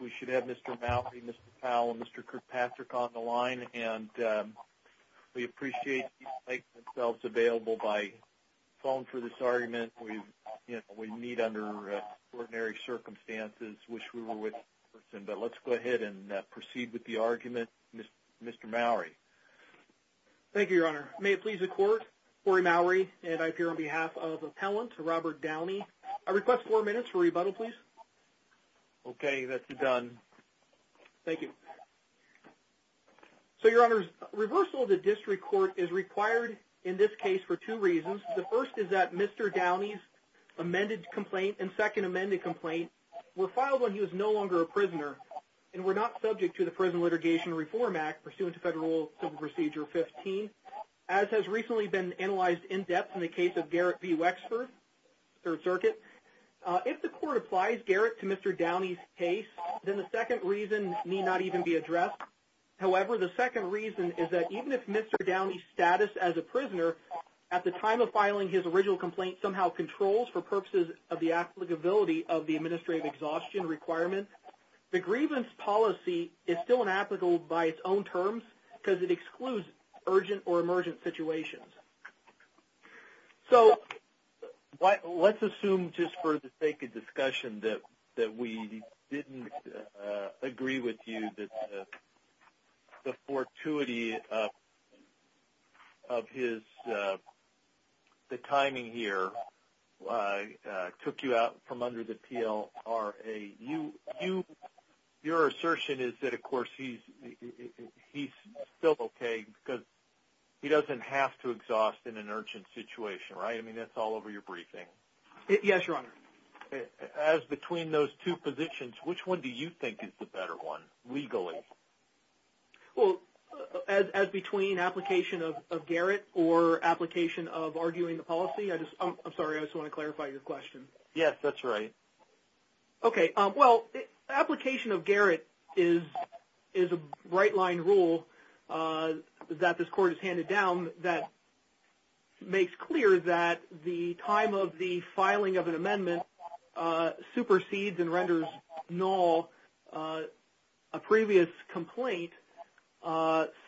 We should have Mr. Mowrey, Mr. Powell, and Mr. Kirkpatrick on the line and we appreciate you making yourselves available by phone for this argument we meet under extraordinary circumstances. Wish we were with you in person, but let's go ahead and proceed with the argument. Mr. Mowrey. Thank you, Your Honor. May it please the Court, Horry Mowrey, and I appear on behalf of Appellant Robert Downey. I request four minutes for rebuttal, please. Okay, that's a done. Thank you. So, Your Honors, reversal of the District Court is required in this case for two reasons. The first is that Mr. Downey's amended complaint and second amended complaint were filed when he was no longer a prisoner and were not subject to the Prison Litigation Reform Act pursuant to Federal Civil Procedure 15, as has recently been analyzed in depth in the case of Garrett v. Wexford, Third Circuit. If the Court applies Garrett to Mr. Downey's case, then the second reason may not even be addressed. However, the second reason is that even if Mr. Downey's status as a prisoner at the time of filing his original complaint somehow controls for purposes of the applicability of the administrative exhaustion requirement, the grievance policy is still inapplicable by its own terms because it excludes urgent or emergent situations. So let's assume just for the sake of discussion that we didn't agree with you that the fortuity of the timing here took you out from under the PLRA. Your assertion is that, of course, he's still okay because he doesn't have to exhaust in an urgent situation, right? I mean, that's all over your briefing. Yes, Your Honor. As between those two positions, which one do you think is the better one legally? Well, as between application of Garrett or application of arguing the policy, I'm sorry. I just want to clarify your question. Yes, that's right. Okay. Well, application of Garrett is a bright-line rule that this Court has handed down that makes clear that the time of the filing of an amendment supersedes and renders null a previous complaint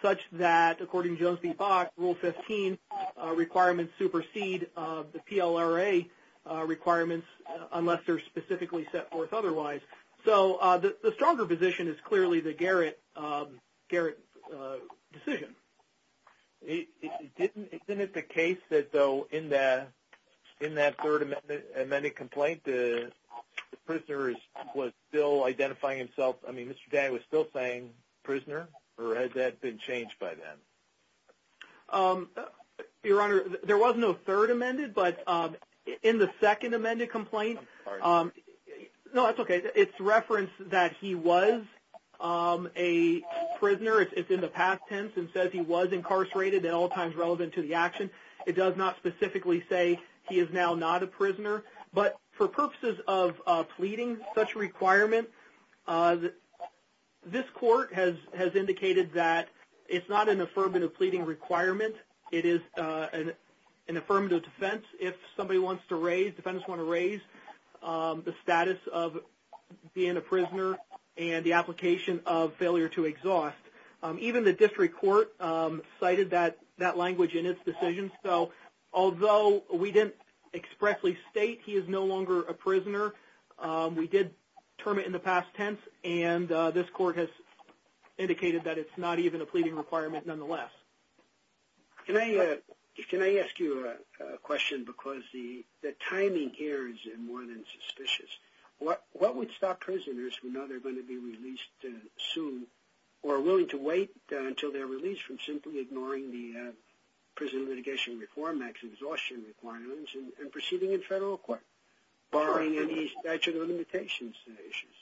such that, according to Jones v. Bach, Rule 15 requirements supersede the PLRA requirements unless they're specifically set forth otherwise. So the stronger position is clearly the Garrett decision. Isn't it the case that, though, in that third amended complaint, the prisoner was still identifying himself? I mean, Mr. Day was still saying prisoner, or has that been changed by then? Your Honor, there was no third amended, but in the second amended complaint – I'm sorry. No, that's okay. It's referenced that he was a prisoner. It's in the past tense and says he was incarcerated at all times relevant to the action. It does not specifically say he is now not a prisoner. But for purposes of pleading such a requirement, this Court has indicated that it's not an affirmative pleading requirement. It is an affirmative defense. If somebody wants to raise – defendants want to raise the status of being a prisoner and the application of failure to exhaust, even the District Court cited that language in its decision. So although we didn't expressly state he is no longer a prisoner, we did term it in the past tense, and this Court has indicated that it's not even a pleading requirement nonetheless. Can I ask you a question? Because the timing here is more than suspicious. What would stop prisoners who know they're going to be released soon or are willing to wait until they're released from simply ignoring the Prison Litigation Reform Act's exhaustion requirements and proceeding in federal court, barring any statute of limitations issues?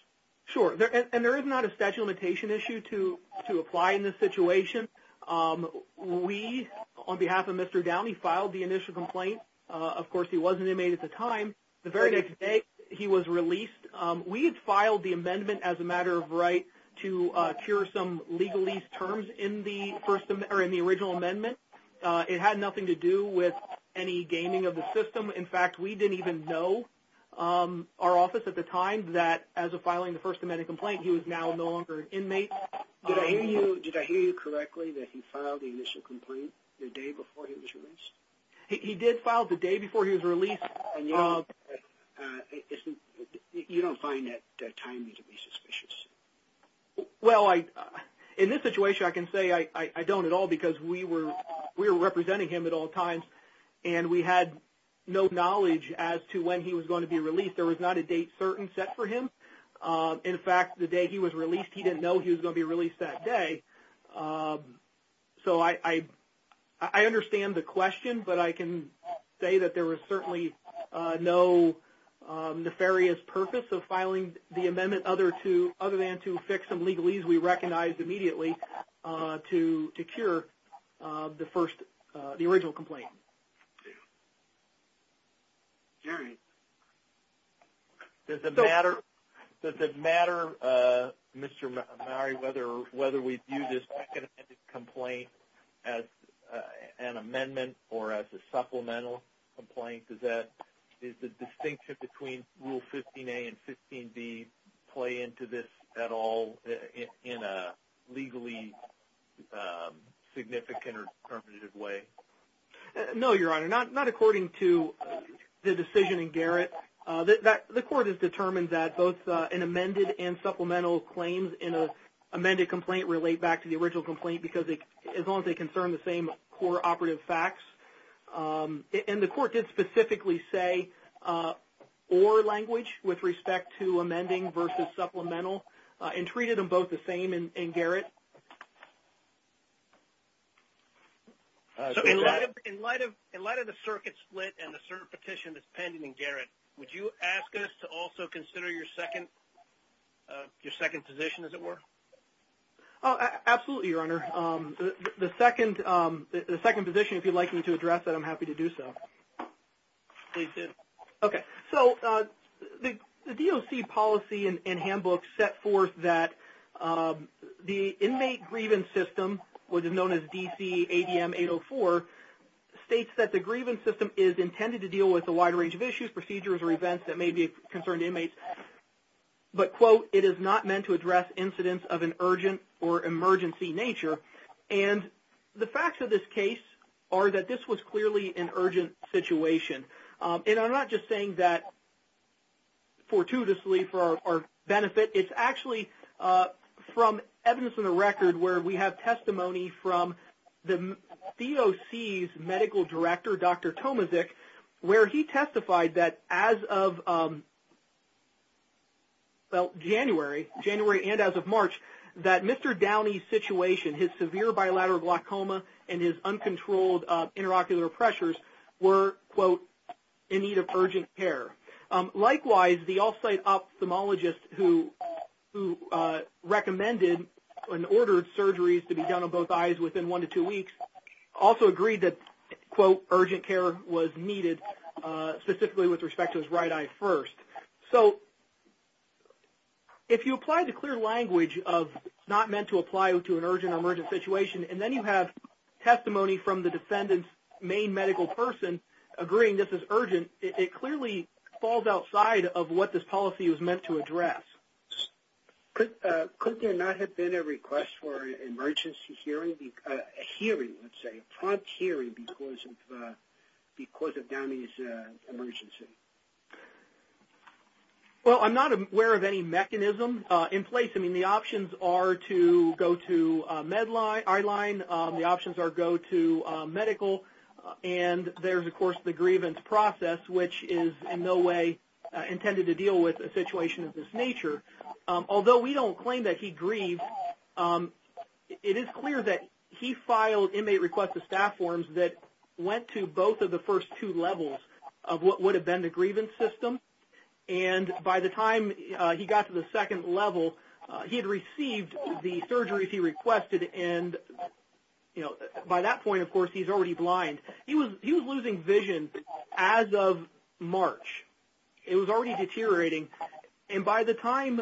Sure. And there is not a statute of limitation issue to apply in this situation. We, on behalf of Mr. Downey, filed the initial complaint. Of course, he was an inmate at the time. The very next day, he was released. We had filed the amendment as a matter of right to cure some legalese terms in the original amendment. It had nothing to do with any gaming of the system. In fact, we didn't even know our office at the time that as of filing the First Amendment complaint, he was now no longer an inmate. Did I hear you correctly that he filed the initial complaint the day before he was released? He did file the day before he was released. And you don't find that timing to be suspicious? Well, in this situation, I can say I don't at all because we were representing him at no knowledge as to when he was going to be released. There was not a date certain set for him. In fact, the day he was released, he didn't know he was going to be released that day. So, I understand the question, but I can say that there was certainly no nefarious purpose of filing the amendment other than to fix some legalese we recognized immediately to cure the original complaint. Does it matter, Mr. Mowrey, whether we view this second amendment complaint as an amendment or as a supplemental complaint? Is the distinction between Rule 15a and 15b play into this at all in a legally significant or determinative way? No, Your Honor. Not according to the decision in Garrett. The court has determined that both an amended and supplemental claims in an amended complaint relate back to the original complaint because as long as they concern the same core operative facts. And the court did specifically say, or language with respect to amending versus supplemental and treated them both the same in Garrett. So, in light of the circuit split and the cert petition that's pending in Garrett, would you ask us to also consider your second position as it were? Absolutely, Your Honor. The second position, if you'd like me to address that, I'm happy to do so. Please do. Okay. So, the DOC policy and handbook set forth that the inmate grievance system, which is known as DC ADM 804, states that the grievance system is intended to deal with a wide range of issues, procedures, or events that may be of concern to inmates. But, quote, it is not meant to address incidents of an urgent or emergency nature. And the facts of this case are that this was clearly an urgent situation. And I'm not just saying that fortuitously for our benefit. It's actually from evidence in the record where we have testimony from the DOC's medical director, Dr. Tomazek, where he testified that as of, well, January, January and as of March, that Mr. Downey's situation, his severe bilateral glaucoma and his uncontrolled interocular pressures were, quote, in need of urgent care. Likewise, the off-site ophthalmologist who recommended and ordered surgeries to be done on both eyes within one to two weeks also agreed that, quote, urgent care was needed specifically with respect to his right eye first. So, if you apply the clear language of not meant to apply to an urgent or emergency situation, and then you have testimony from the defendant's main medical person agreeing this is urgent, it clearly falls outside of what this policy was meant to address. Could there not have been a request for an emergency hearing? A hearing, let's say, a prompt hearing because of Downey's emergency? Well, I'm not aware of any mechanism in place. I mean, the options are to go to eye line. The options are go to medical. And there's, of course, the grievance process, which is in no way intended to deal with a Although we don't claim that he grieved, it is clear that he filed inmate request to staff forms that went to both of the first two levels of what would have been the grievance system. And by the time he got to the second level, he had received the surgeries he requested. And, you know, by that point, of course, he's already blind. He was losing vision as of March. It was already deteriorating. And by the time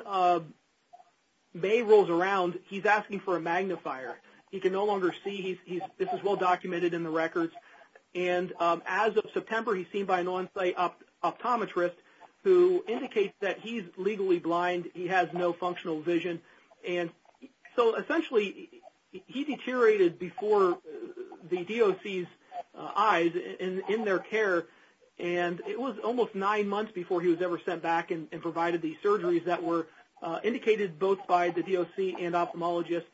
May rolls around, he's asking for a magnifier. He can no longer see. This is well documented in the records. And as of September, he's seen by an on-site optometrist who indicates that he's legally blind. He has no functional vision. And so, essentially, he deteriorated before the DOC's eyes in their care. And it was almost nine months before he was ever sent back and provided the surgeries that were indicated both by the DOC and ophthalmologist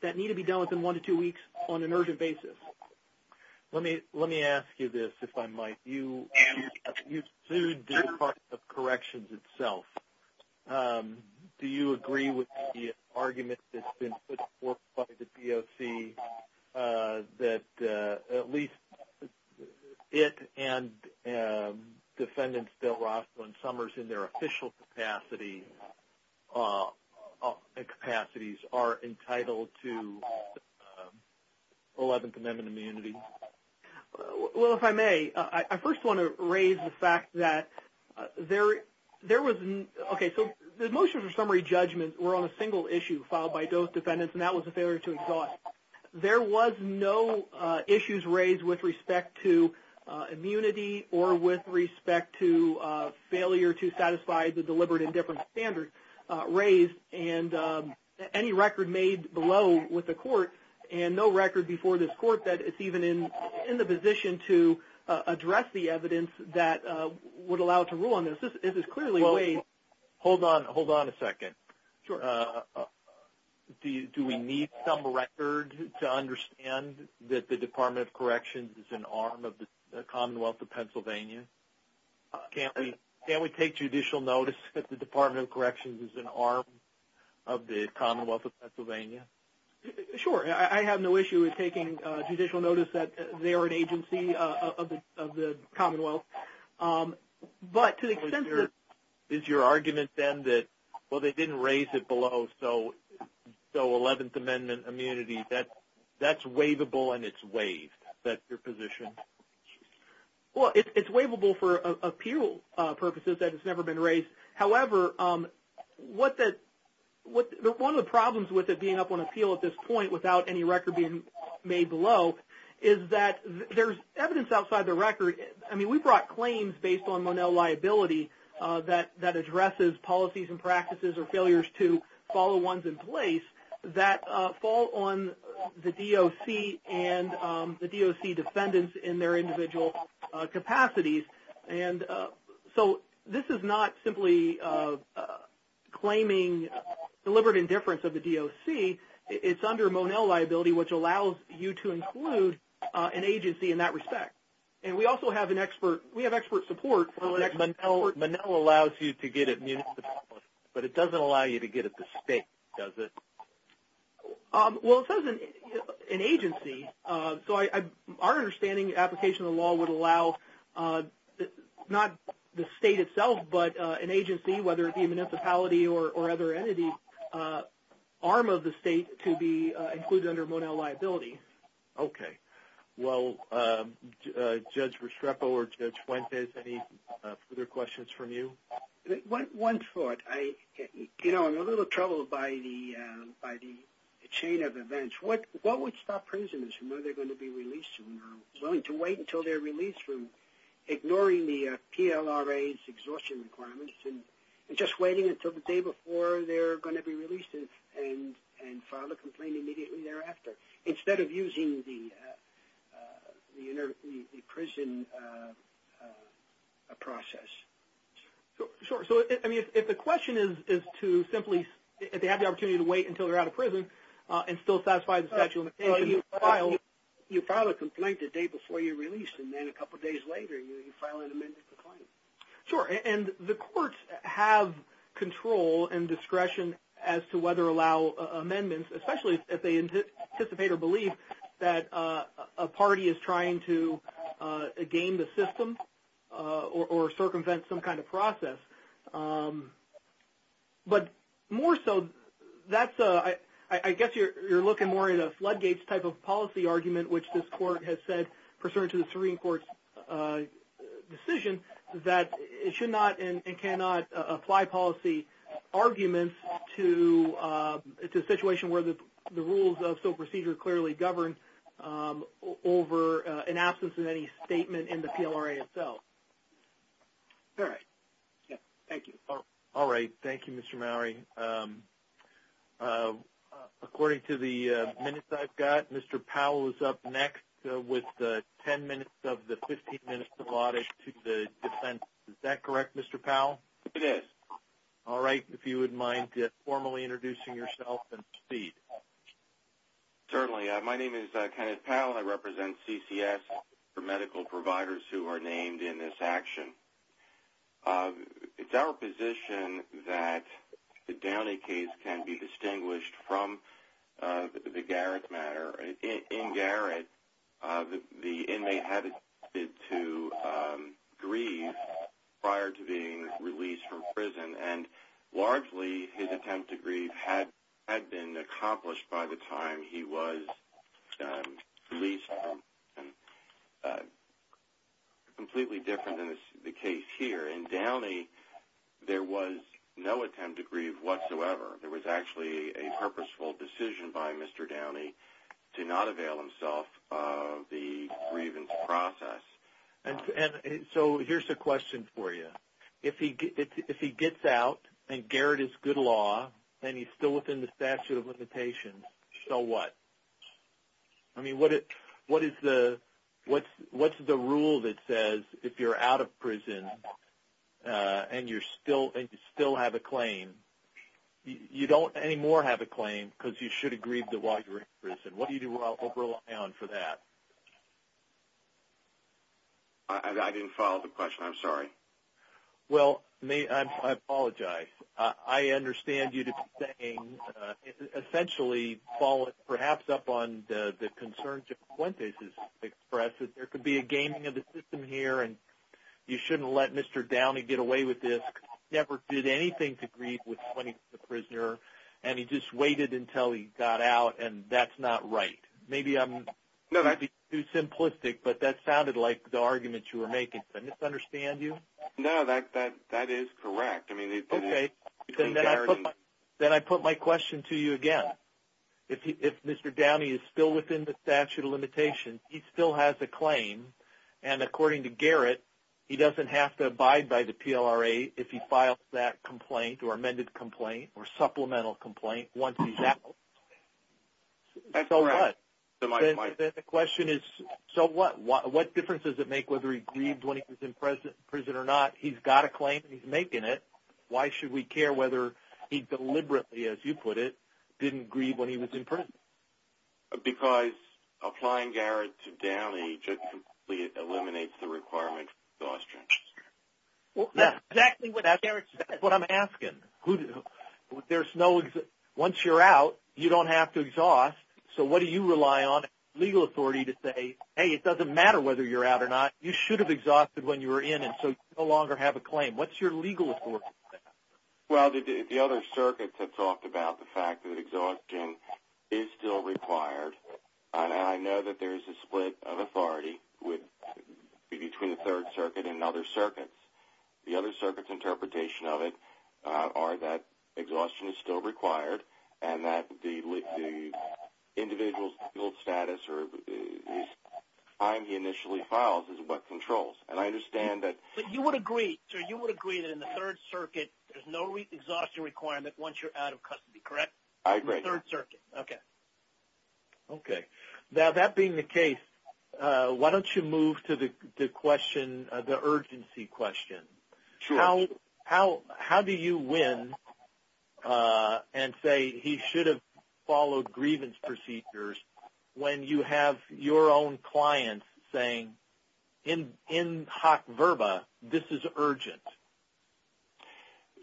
that need to be done within one to two weeks on an urgent basis. Let me ask you this, if I might. You sued the Department of Corrections itself. Do you agree with the argument that's been put forth by the DOC that at least it and Defendants Bill Ross and Summers in their official capacities are entitled to 11th Amendment immunity? Well, if I may, I first want to raise the fact that there was no – okay, so the motions or summary judgments were on a single issue filed by both defendants, and that was a failure to exhaust. There was no issues raised with respect to immunity or with respect to failure to satisfy the deliberate and different standards raised. And any record made below with the court and no record before this court that it's even in the position to address the evidence that would allow it to rule on this. This is clearly a way – Well, hold on a second. Sure. Do we need some record to understand that the Department of Corrections is an arm of the Commonwealth of Pennsylvania? Can't we take judicial notice that the Department of Corrections is an arm of the Commonwealth of Pennsylvania? Sure. I have no issue with taking judicial notice that they're an agency of the Commonwealth. But to the extent that – Is your argument then that, well, they didn't raise it below, so 11th Amendment immunity, that's waivable and it's waived? That's your position? Well, it's waivable for appeal purposes that it's never been raised. However, one of the problems with it being up on appeal at this point without any record being made below is that there's evidence outside the record – I mean, we brought claims based on Monell liability that addresses policies and practices or failures to follow ones in place that fall on the DOC and the DOC defendants in their individual capacities. And so this is not simply claiming deliberate indifference of the DOC. It's under Monell liability, which allows you to include an agency in that respect. And we also have an expert – we have expert support. Monell allows you to get at municipalities, but it doesn't allow you to get at the state, does it? Well, it says an agency. So our understanding, application of the law would allow not the state itself, but an agency, whether it be a municipality or other entity, arm of the state to be included under Monell liability. Okay. Well, Judge Restrepo or Judge Fuentes, any further questions from you? One thought. You know, I'm a little troubled by the chain of events. What would stop prisoners from knowing they're going to be released soon or willing to wait until they're released from ignoring the PLRA's exhaustion requirements and just waiting until the day before they're going to be released and file a complaint immediately thereafter instead of using the prison process? Sure. So, I mean, if the question is to simply – if they have the opportunity to wait until they're out of prison and still satisfy the statute of limitations and file – You file a complaint the day before you're released, and then a couple days later you file an amended complaint. Sure. And the courts have control and discretion as to whether to allow amendments, especially if they anticipate or believe that a party is trying to game the system or circumvent some kind of process. But more so, that's a – I guess you're looking more at a floodgates type of policy argument, which this court has said, pursuant to the Serene Court's decision, that it should not and cannot apply policy arguments to a situation where the rules of SOAP procedure clearly govern over an absence of any statement in the PLRA itself. All right. Thank you. All right. Thank you, Mr. Mowery. According to the minutes I've got, Mr. Powell is up next with the 10 minutes of the 15 minutes allotted to the defense. Is that correct, Mr. Powell? It is. If you wouldn't mind formally introducing yourself and state. Certainly. My name is Kenneth Powell. I represent CCS for medical providers who are named in this action. It's our position that the Downey case can be distinguished from the Garrett matter. In Garrett, the inmate had attempted to grieve prior to being released from prison, and largely his attempt to grieve had been accomplished by the time he was released from prison, completely different than the case here. In Downey, there was no attempt to grieve whatsoever. There was actually a purposeful decision by Mr. Downey to not avail himself of the grievance process. So here's the question for you. If he gets out and Garrett is good law and he's still within the statute of limitations, so what? I mean, what's the rule that says if you're out of prison and you still have a claim, you don't anymore have a claim because you should have grieved while you were in prison. What do you do overall for that? I didn't follow the question. I'm sorry. Well, I apologize. I understand you to be saying, essentially, follow perhaps up on the concerns that Quintez has expressed, that there could be a gaming of the system here and you shouldn't let Mr. Downey get away with this. He never did anything to grieve when he was a prisoner, and he just waited until he got out, and that's not right. Maybe I'm being too simplistic, but that sounded like the argument you were making. Did I misunderstand you? No, that is correct. Okay. Then I put my question to you again. If Mr. Downey is still within the statute of limitations, he still has a claim, and according to Garrett, he doesn't have to abide by the PLRA if he files that complaint or amended complaint or supplemental complaint once he's out. That's correct. So what? The question is, so what? What difference does it make whether he grieved when he was in prison or not? He's got a claim and he's making it. Why should we care whether he deliberately, as you put it, didn't grieve when he was in prison? Because applying Garrett to Downey just completely eliminates the requirement for exhaustion. That's exactly what Garrett said. That's what I'm asking. Once you're out, you don't have to exhaust, so what do you rely on legal authority to say, hey, it doesn't matter whether you're out or not, you should have exhausted when you were in and so you no longer have a claim. What's your legal authority? Well, the other circuits have talked about the fact that exhaustion is still required, and I know that there is a split of authority between the Third Circuit and other circuits. The other circuits' interpretation of it are that exhaustion is still required and that the individual's legal status or the time he initially files is what controls. And I understand that. But you would agree, sir, you would agree that in the Third Circuit, there's no exhaustion requirement once you're out of custody, correct? I agree. In the Third Circuit. Okay. Okay. Now, that being the case, why don't you move to the question, the urgency question. Sure. How do you win and say he should have followed grievance procedures when you have your own client saying, in hoc verba, this is urgent?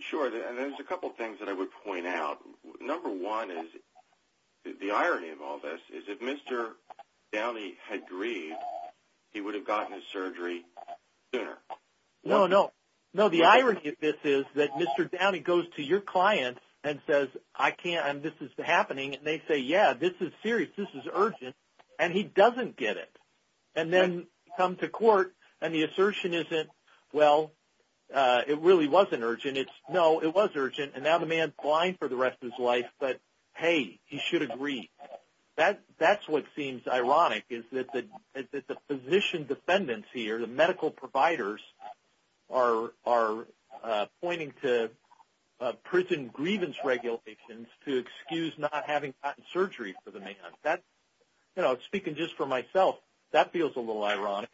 Sure. There's a couple things that I would point out. Number one is the irony of all this is if Mr. Downey had grieved, he would have gotten his surgery sooner. No, no. No, the irony of this is that Mr. Downey goes to your client and says, I can't, and this is happening, and they say, yeah, this is serious, this is urgent, and he doesn't get it. And then come to court and the assertion isn't, well, it really wasn't urgent. No, it was urgent. And now the man is blind for the rest of his life, but, hey, he should agree. That's what seems ironic is that the physician defendants here, the medical providers, are pointing to prison grievance regulations to excuse not having gotten surgery for the man. You know, speaking just for myself, that feels a little ironic.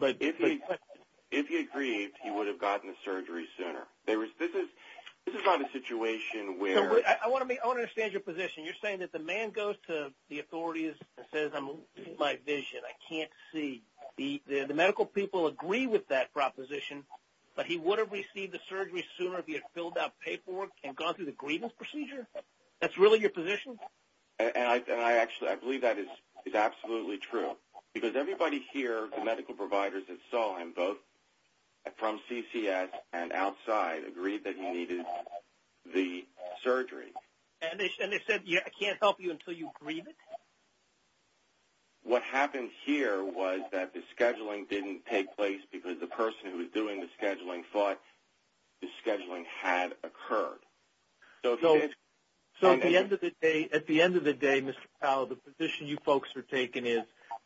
If he had grieved, he would have gotten the surgery sooner. This is not a situation where – I want to understand your position. You're saying that the man goes to the authorities and says, I'm losing my vision, I can't see. The medical people agree with that proposition, but he would have received the surgery sooner if he had filled out paperwork and gone through the grievance procedure? That's really your position? And I actually believe that is absolutely true because everybody here, the medical providers that saw him, both from CCS and outside, agreed that he needed the surgery. And they said, I can't help you until you grieve it? What happened here was that the scheduling didn't take place because the person who was doing the scheduling thought the scheduling had occurred. So at the end of the day, Mr. Powell, the position you folks are taking is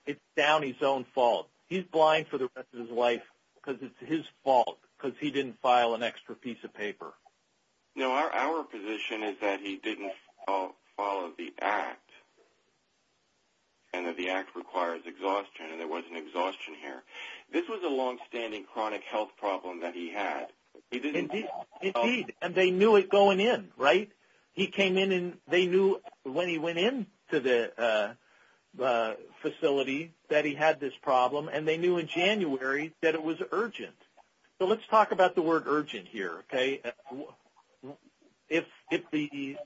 it's Downey's own fault. He's blind for the rest of his life because it's his fault because he didn't file an extra piece of paper. No, our position is that he didn't follow the act and that the act requires exhaustion, and there wasn't exhaustion here. This was a longstanding chronic health problem that he had. Indeed, and they knew it going in, right? He came in and they knew when he went into the facility that he had this problem, and they knew in January that it was urgent. So let's talk about the word urgent here, okay? If the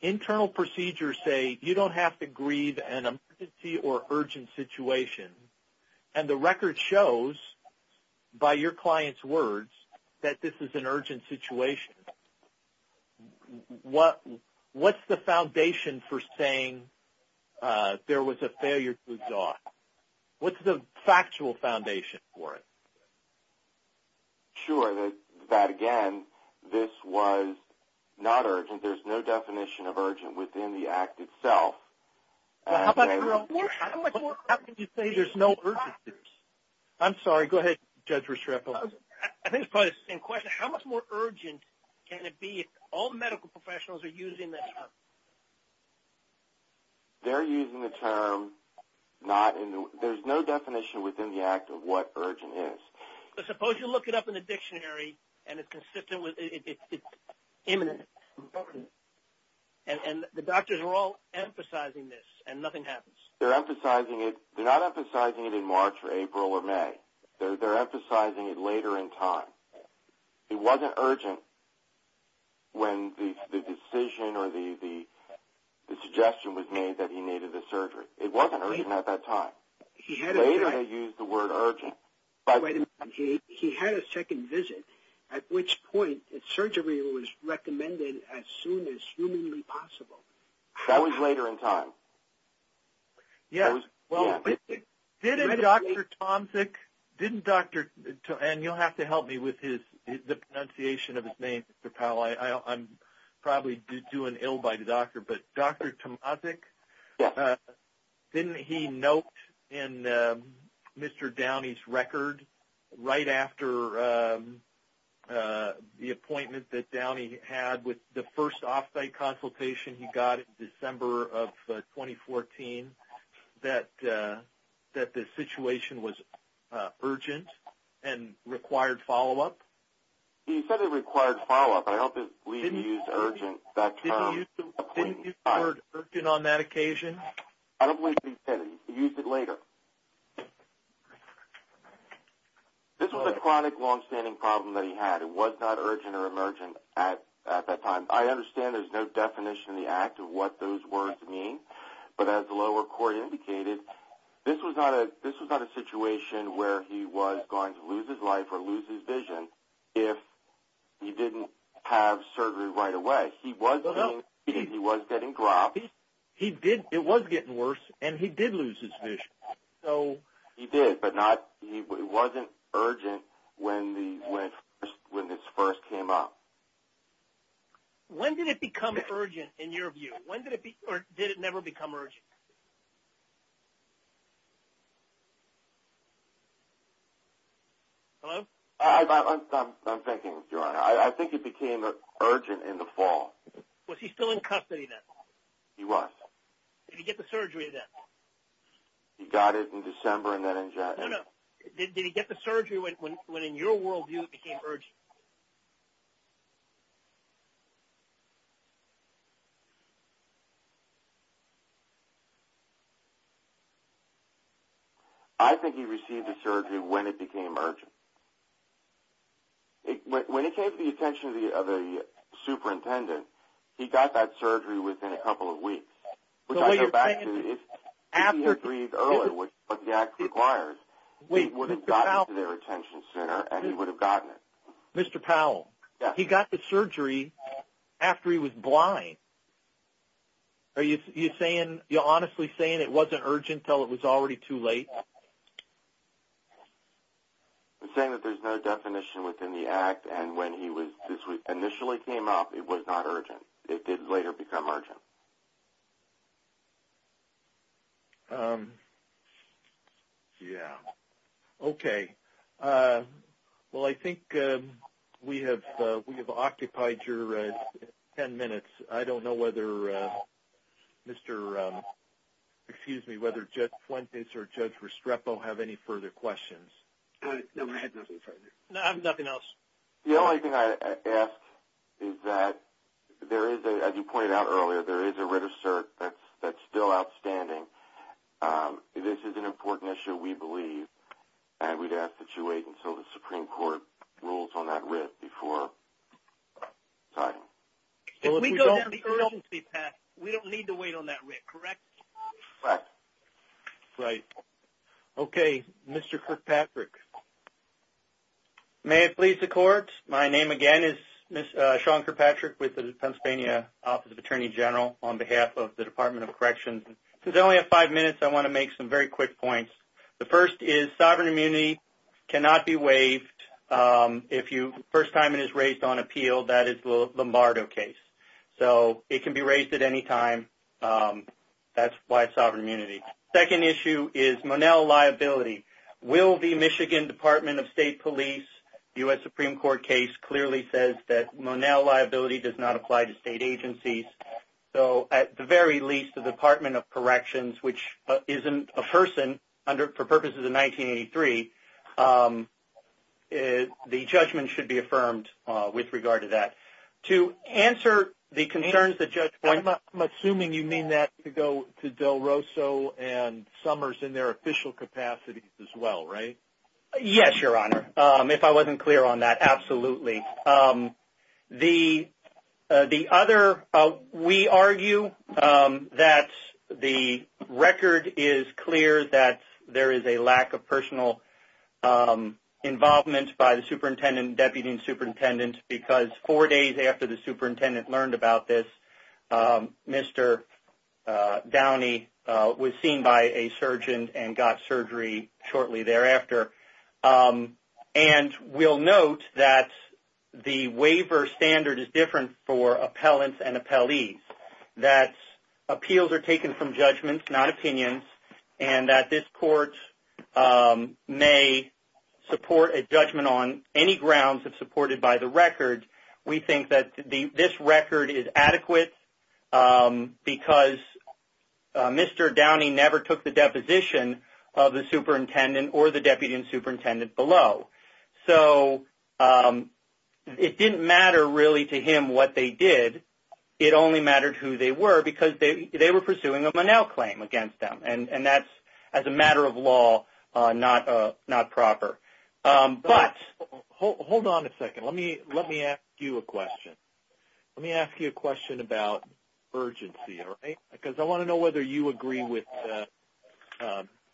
internal procedures say you don't have to grieve an emergency or urgent situation, and the record shows by your client's words that this is an urgent situation, what's the foundation for saying there was a failure to exhaust? What's the factual foundation for it? Sure, that, again, this was not urgent. There's no definition of urgent within the act itself. How much more urgent can you say there's no urgency? I'm sorry, go ahead, Judge Restrepo. I think it's probably the same question. How much more urgent can it be if all medical professionals are using this term? They're using the term not in the – there's no definition within the act of what urgent is. But suppose you look it up in the dictionary and it's consistent with – it's imminent. And the doctors are all emphasizing this and nothing happens. They're emphasizing it. They're not emphasizing it in March or April or May. They're emphasizing it later in time. It wasn't urgent when the decision or the suggestion was made that he needed the surgery. It wasn't urgent at that time. Later they used the word urgent. He had a second visit, at which point surgery was recommended as soon as humanly possible. That was later in time. Yes. Well, didn't Dr. Tomczyk – and you'll have to help me with the pronunciation of his name, Mr. Powell. I'm probably doing ill by the doctor. But Dr. Tomczyk, didn't he note in Mr. Downey's record, right after the appointment that Downey had with the first off-site consultation he got in December of 2014, that the situation was urgent and required follow-up? He said it required follow-up. I don't believe he used urgent that term. Didn't he use the word urgent on that occasion? I don't believe he did. He used it later. This was a chronic, long-standing problem that he had. It was not urgent or emergent at that time. I understand there's no definition in the act of what those words mean, but as the lower court indicated, this was not a situation where he was going to lose his life or lose his vision if he didn't have surgery right away. He was getting dropped. It was getting worse, and he did lose his vision. He did, but it wasn't urgent when this first came up. When did it become urgent in your view? When did it never become urgent? Hello? I'm thinking, Your Honor. I think it became urgent in the fall. Was he still in custody then? He was. Did he get the surgery then? He got it in December and then in January. No, no. Did he get the surgery when, in your worldview, it became urgent? I think he received the surgery when it became urgent. When it came to the attention of the superintendent, he got that surgery within a couple of weeks, which I go back to if he had agreed earlier what the act requires, he would have gotten it to the retention center and he would have gotten it. Mr. Powell? Yes. He got the surgery after he was blind. Are you honestly saying it wasn't urgent until it was already too late? I'm saying that there's no definition within the act, and when he initially came up, it was not urgent. It did later become urgent. Yes. Okay. Well, I think we have occupied your ten minutes. I don't know whether Judge Fuentes or Judge Restrepo have any further questions. No, I have nothing else. The only thing I ask is that there is, as you pointed out earlier, there is a writ of cert that's still outstanding. This is an important issue, we believe, and we'd ask that you wait until the Supreme Court rules on that writ before signing. If we go down the urgency path, we don't need to wait on that writ, correct? Correct. Right. Okay. Mr. Kirkpatrick? May it please the Court. My name, again, is Sean Kirkpatrick with the Pennsylvania Office of Attorney General on behalf of the Department of Corrections. Since I only have five minutes, I want to make some very quick points. The first is sovereign immunity cannot be waived. If the first time it is raised on appeal, that is the Lombardo case. So it can be raised at any time. That's why it's sovereign immunity. The second issue is Monell liability. Will the Michigan Department of State Police, U.S. Supreme Court case, clearly says that Monell liability does not apply to state agencies? So, at the very least, the Department of Corrections, which isn't a person, for purposes of 1983, the judgment should be affirmed with regard to that. To answer the concerns that Judge Boyd... Yes, Your Honor. If I wasn't clear on that, absolutely. The other, we argue that the record is clear that there is a lack of personal involvement by the superintendent, deputy superintendent, because four days after the superintendent learned about this, Mr. Downey was seen by a surgeon and got surgery shortly thereafter. And we'll note that the waiver standard is different for appellants and appellees, that appeals are taken from judgments, not opinions, and that this court may support a judgment on any grounds if supported by the record. We think that this record is adequate because Mr. Downey never took the deposition of the superintendent or the deputy superintendent below. So, it didn't matter really to him what they did. It only mattered who they were because they were pursuing a Monell claim against them, and that's, as a matter of law, not proper. But, hold on a second. Let me ask you a question. Let me ask you a question about urgency, all right? Because I want to know whether you agree with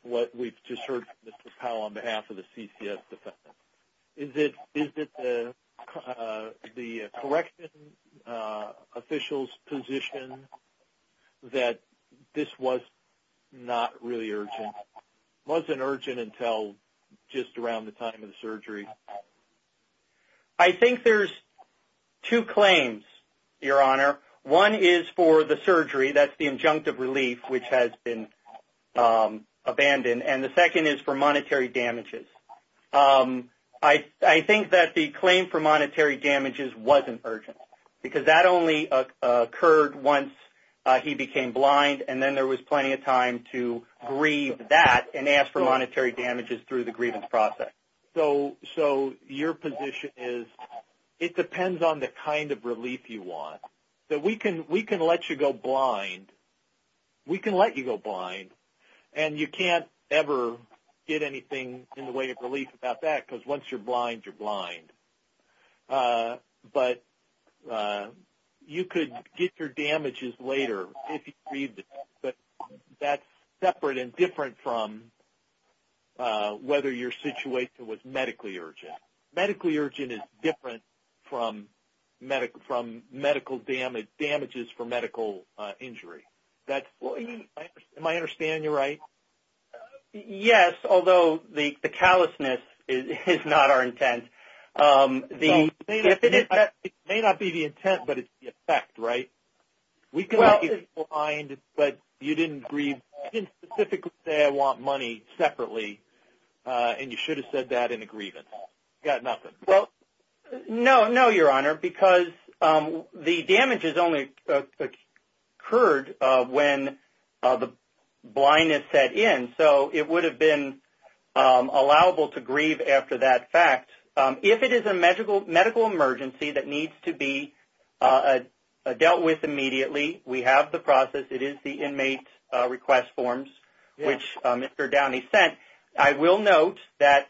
what we've just heard from Mr. Powell on behalf of the CCS defense. Is it the correction official's position that this was not really urgent? It wasn't urgent until just around the time of the surgery? I think there's two claims, Your Honor. One is for the surgery, that's the injunctive relief, which has been abandoned, and the second is for monetary damages. I think that the claim for monetary damages wasn't urgent because that only occurred once he became blind, and then there was plenty of time to grieve that and ask for monetary damages through the grievance process. So, your position is it depends on the kind of relief you want. So, we can let you go blind, and you can't ever get anything in the way of relief about that because once you're blind, you're blind. But you could get your damages later if you agreed, but that's separate and different from whether your situation was medically urgent. Medically urgent is different from medical damages for medical injury. Am I understanding you right? Yes, although the callousness is not our intent. It may not be the intent, but it's the effect, right? We can let you go blind, but you didn't specifically say I want money separately, and you should have said that in a grievance. You got nothing. No, Your Honor, because the damages only occurred when the blindness set in, so it would have been allowable to grieve after that fact. If it is a medical emergency that needs to be dealt with immediately, we have the process. It is the inmate request forms, which Mr. Downey sent. And I will note that,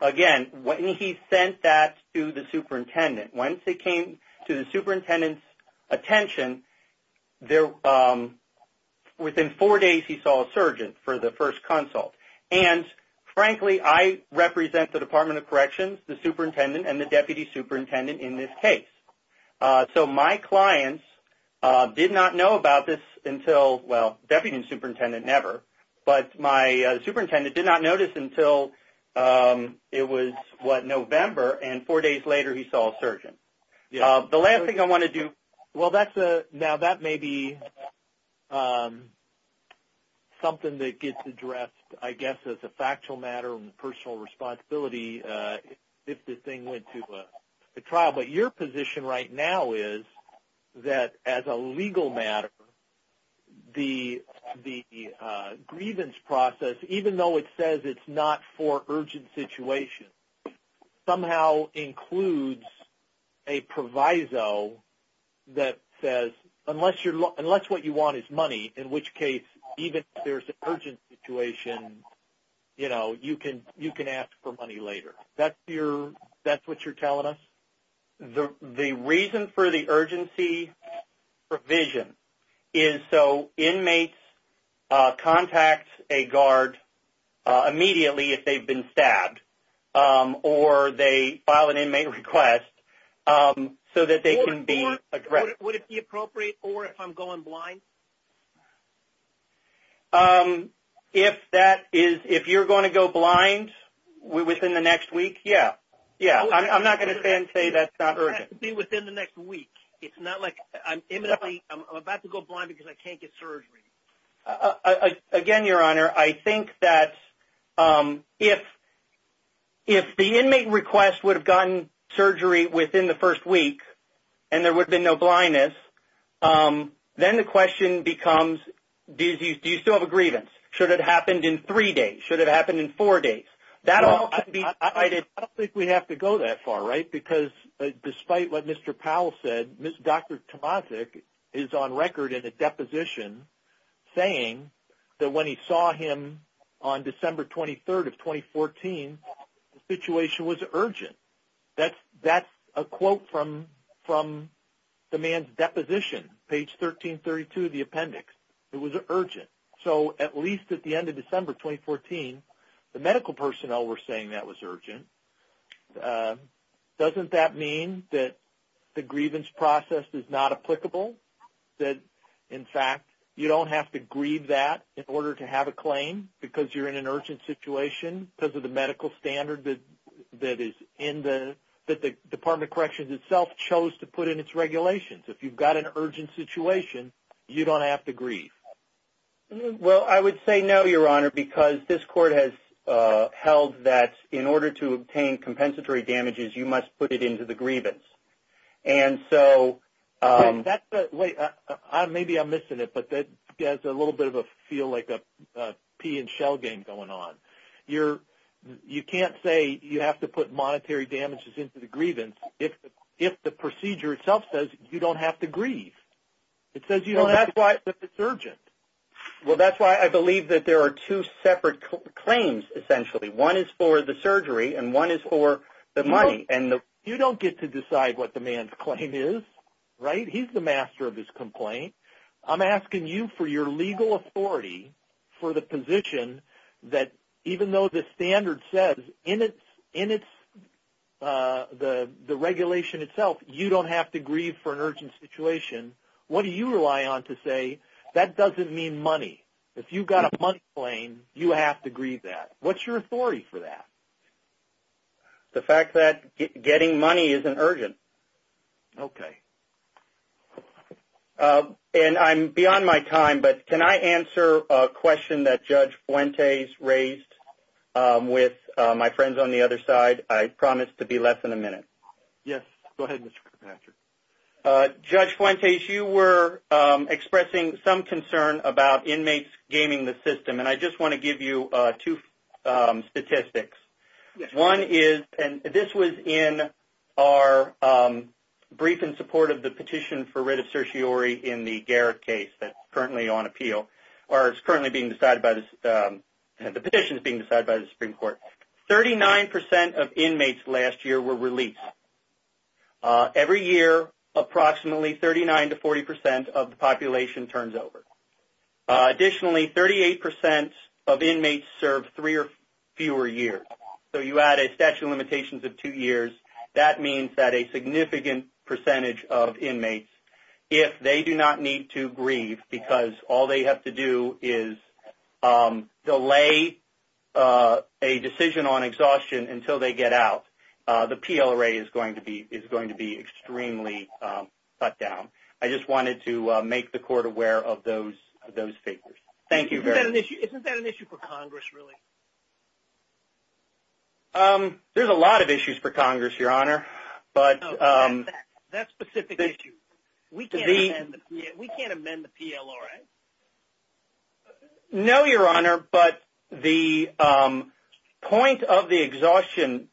again, when he sent that to the superintendent, once it came to the superintendent's attention, within four days he saw a surgeon for the first consult. And, frankly, I represent the Department of Corrections, the superintendent, and the deputy superintendent in this case. So my clients did not know about this until, well, deputy superintendent never, but my superintendent did not notice until it was, what, November, and four days later he saw a surgeon. The last thing I want to do. Well, now that may be something that gets addressed, I guess, as a factual matter and personal responsibility if this thing went to trial. But your position right now is that, as a legal matter, the grievance process, even though it says it's not for urgent situations, somehow includes a proviso that says, unless what you want is money, in which case even if there's an urgent situation, you know, you can ask for money later. That's what you're telling us? The reason for the urgency provision is so inmates contact a guard immediately if they've been stabbed or they file an inmate request so that they can be addressed. Would it be appropriate, or if I'm going blind? If that is, if you're going to go blind within the next week, yeah. Yeah. I'm not going to say that's not urgent. It has to be within the next week. It's not like I'm imminently, I'm about to go blind because I can't get surgery. Again, Your Honor, I think that if the inmate request would have gotten surgery within the first week and there would have been no blindness, then the question becomes, do you still have a grievance? Should it have happened in three days? Should it have happened in four days? I don't think we have to go that far, right, because despite what Mr. Powell said, Dr. Tomazek is on record in a deposition saying that when he saw him on December 23rd of 2014, the situation was urgent. That's a quote from the man's deposition, page 1332 of the appendix. It was urgent. So at least at the end of December 2014, the medical personnel were saying that was urgent. Doesn't that mean that the grievance process is not applicable? That, in fact, you don't have to grieve that in order to have a claim because you're in an urgent situation because of the medical standard that the Department of Corrections itself chose to put in its regulations? If you've got an urgent situation, you don't have to grieve. Well, I would say no, Your Honor, because this court has held that in order to obtain compensatory damages, you must put it into the grievance. Maybe I'm missing it, but it has a little bit of a feel like a pee and shell game going on. You can't say you have to put monetary damages into the grievance if the procedure itself says you don't have to grieve. It says you don't have to grieve if it's urgent. Well, that's why I believe that there are two separate claims, essentially. One is for the surgery and one is for the money. You don't get to decide what the man's claim is, right? He's the master of his complaint. I'm asking you for your legal authority for the position that even though the standard says in the regulation itself you don't have to grieve for an urgent situation, what do you rely on to say that doesn't mean money? If you've got a money claim, you have to grieve that. What's your authority for that? The fact that getting money isn't urgent. Okay. And I'm beyond my time, but can I answer a question that Judge Fuentes raised with my friends on the other side? I promise to be less than a minute. Yes, go ahead, Mr. Kirkpatrick. Judge Fuentes, you were expressing some concern about inmates gaming the system, and I just want to give you two statistics. One is, and this was in our brief in support of the petition for writ of certiorari in the Garrett case that's currently on appeal or is currently being decided by the – the petition is being decided by the Supreme Court. Thirty-nine percent of inmates last year were released. Every year, approximately 39 to 40 percent of the population turns over. Additionally, 38 percent of inmates serve three or fewer years. So you add a statute of limitations of two years, that means that a significant percentage of inmates, if they do not need to grieve because all they have to do is delay a decision on exhaustion until they get out, the PLRA is going to be – is going to be extremely cut down. I just wanted to make the court aware of those figures. Thank you very much. Isn't that an issue for Congress, really? There's a lot of issues for Congress, Your Honor, but – No, that specific issue. We can't amend the PLRA. No, Your Honor, but the point of the exhaustion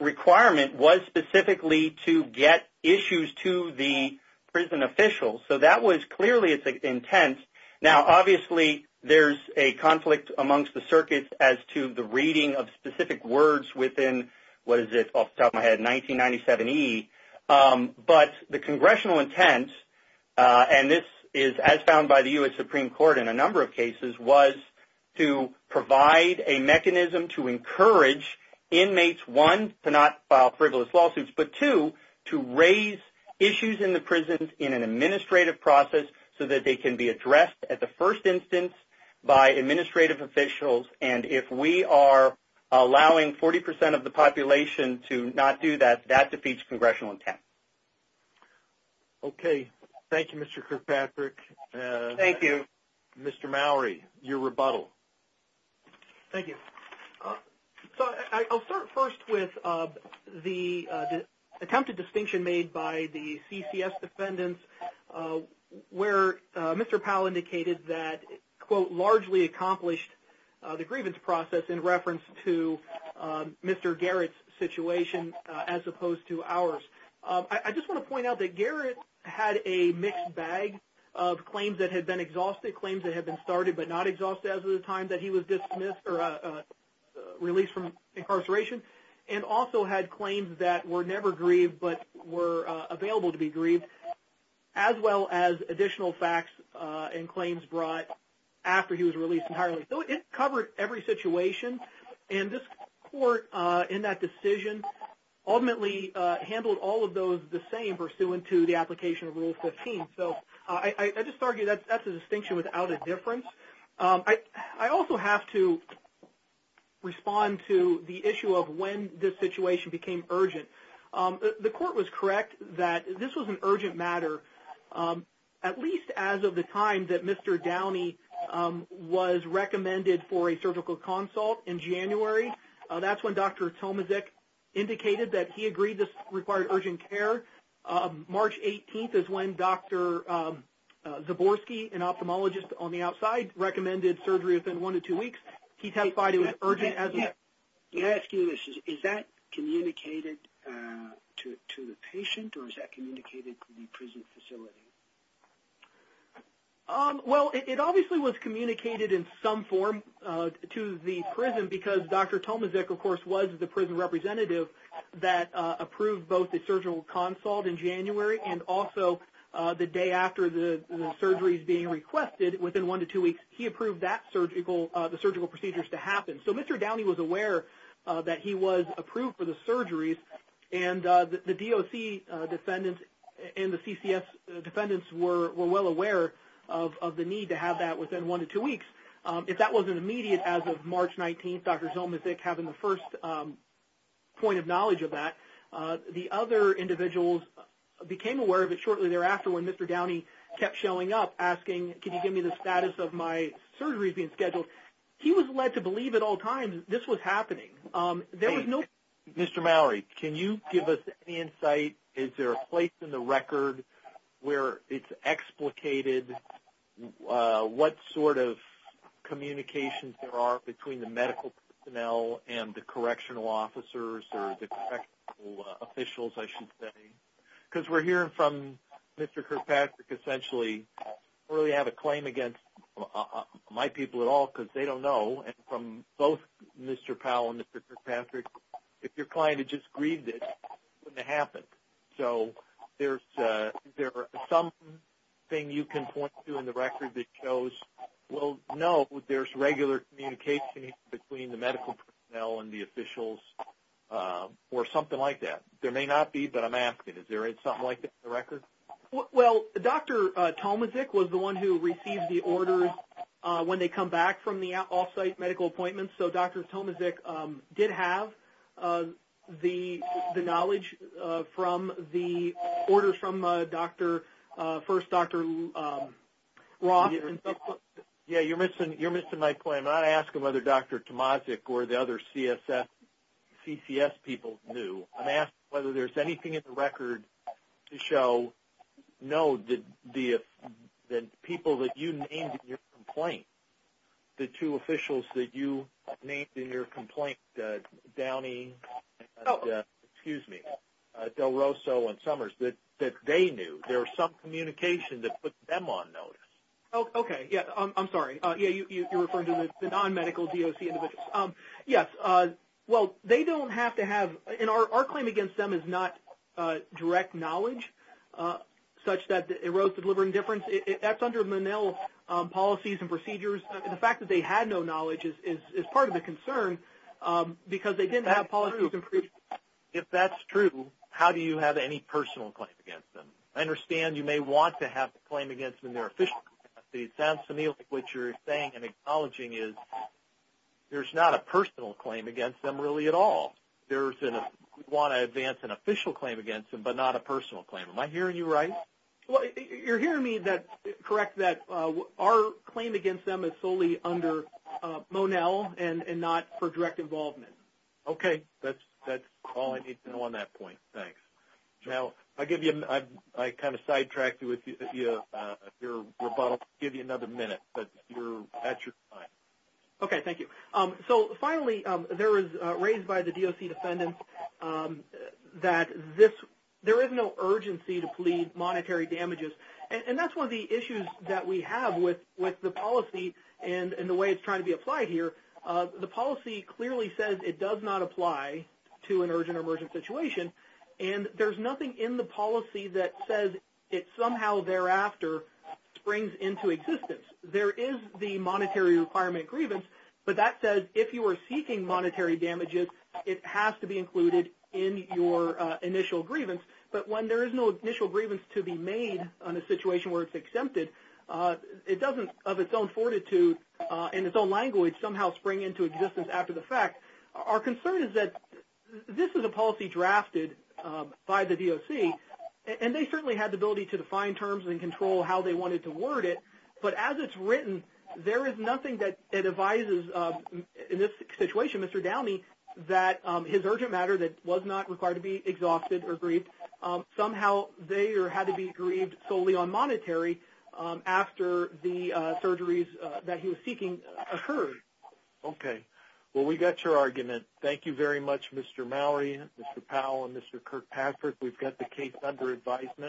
requirement was specifically to get issues to the prison officials. So that was clearly its intent. Now, obviously, there's a conflict amongst the circuits as to the reading of specific words within – what is it off the top of my head – 1997E. But the congressional intent, and this is as found by the U.S. Supreme Court in a number of cases, was to provide a mechanism to encourage inmates, one, to not file frivolous lawsuits, but two, to raise issues in the prisons in an administrative process so that they can be addressed at the first instance by administrative officials. And if we are allowing 40 percent of the population to not do that, that defeats congressional intent. Okay. Thank you, Mr. Kirkpatrick. Thank you. Mr. Mowrey, your rebuttal. Thank you. So I'll start first with the attempted distinction made by the CCS defendants where Mr. Powell indicated that, quote, largely accomplished the grievance process in reference to Mr. Garrett's situation as opposed to ours. I just want to point out that Garrett had a mixed bag of claims that had been exhausted, claims that had been started but not exhausted as of the time that he was dismissed or released from incarceration, and also had claims that were never grieved but were available to be grieved. As well as additional facts and claims brought after he was released entirely. So it covered every situation. And this court in that decision ultimately handled all of those the same pursuant to the application of Rule 15. So I just argue that's a distinction without a difference. I also have to respond to the issue of when this situation became urgent. The court was correct that this was an urgent matter, at least as of the time that Mr. Downey was recommended for a surgical consult in January. That's when Dr. Tomaszek indicated that he agreed this required urgent care. March 18th is when Dr. Zaborski, an ophthalmologist on the outside, recommended surgery within one to two weeks. He testified it was urgent as of that time. May I ask you this? Is that communicated to the patient or is that communicated to the prison facility? Well, it obviously was communicated in some form to the prison because Dr. Tomaszek, of course, was the prison representative that approved both the surgical consult in January and also the day after the surgery is being requested, within one to two weeks, he approved the surgical procedures to happen. So Mr. Downey was aware that he was approved for the surgeries, and the DOC defendants and the CCS defendants were well aware of the need to have that within one to two weeks. If that wasn't immediate as of March 19th, Dr. Tomaszek having the first point of knowledge of that, the other individuals became aware of it shortly thereafter when Mr. Downey kept showing up asking, can you give me the status of my surgeries being scheduled? He was led to believe at all times this was happening. Mr. Mallory, can you give us any insight? Is there a place in the record where it's explicated what sort of communications there are between the medical personnel and the correctional officers or the correctional officials, I should say? Because we're hearing from Mr. Kirkpatrick essentially, I don't really have a claim against my people at all because they don't know, and from both Mr. Powell and Mr. Kirkpatrick, if your client had just grieved it, it wouldn't have happened. So is there something you can point to in the record that shows, well, no, there's regular communication between the medical personnel and the officials or something like that? There may not be, but I'm asking, is there something like that in the record? Well, Dr. Tomaszek was the one who received the orders when they come back from the off-site medical appointments, so Dr. Tomaszek did have the knowledge from the orders from first Dr. Roth. Yeah, you're missing my point. I'm not asking whether Dr. Tomaszek or the other CCS people knew. I'm asking whether there's anything in the record to show, no, the people that you named in your complaint, the two officials that you named in your complaint, Downey and, excuse me, Del Rosso and Summers, that they knew. There was some communication that put them on notice. Okay, yeah, I'm sorry. Yeah, you're referring to the non-medical DOC individuals. Yes, yes. Well, they don't have to have, and our claim against them is not direct knowledge such that it arose to deliver indifference. That's under Menil's policies and procedures. The fact that they had no knowledge is part of the concern because they didn't have policies and procedures. If that's true, how do you have any personal claim against them? I understand you may want to have a claim against them in their official capacity. It sounds to me like what you're saying and acknowledging is there's not a personal claim against them really at all. We want to advance an official claim against them but not a personal claim. Am I hearing you right? You're hearing me correct that our claim against them is solely under Monel and not for direct involvement. Okay, that's all I need to know on that point. Thanks. Now, I kind of sidetracked your rebuttal. I'll give you another minute, but you're at your time. Okay, thank you. So, finally, there is, raised by the DOC defendants, that there is no urgency to plead monetary damages. And that's one of the issues that we have with the policy and the way it's trying to be applied here. The policy clearly says it does not apply to an urgent or emergent situation, and there's nothing in the policy that says it somehow thereafter springs into existence. There is the monetary requirement grievance, but that says if you are seeking monetary damages, it has to be included in your initial grievance. But when there is no initial grievance to be made on a situation where it's exempted, it doesn't, of its own fortitude and its own language, somehow spring into existence after the fact. Our concern is that this is a policy drafted by the DOC, and they certainly had the ability to define terms and control how they wanted to word it. But as it's written, there is nothing that advises, in this situation, Mr. Downey, that his urgent matter that was not required to be exhausted or grieved, somehow they had to be grieved solely on monetary after the surgeries that he was seeking occurred. Okay. Well, we got your argument. Thank you very much, Mr. Mallory, Mr. Powell, and Mr. Kirkpatrick. We've got the case under advisement.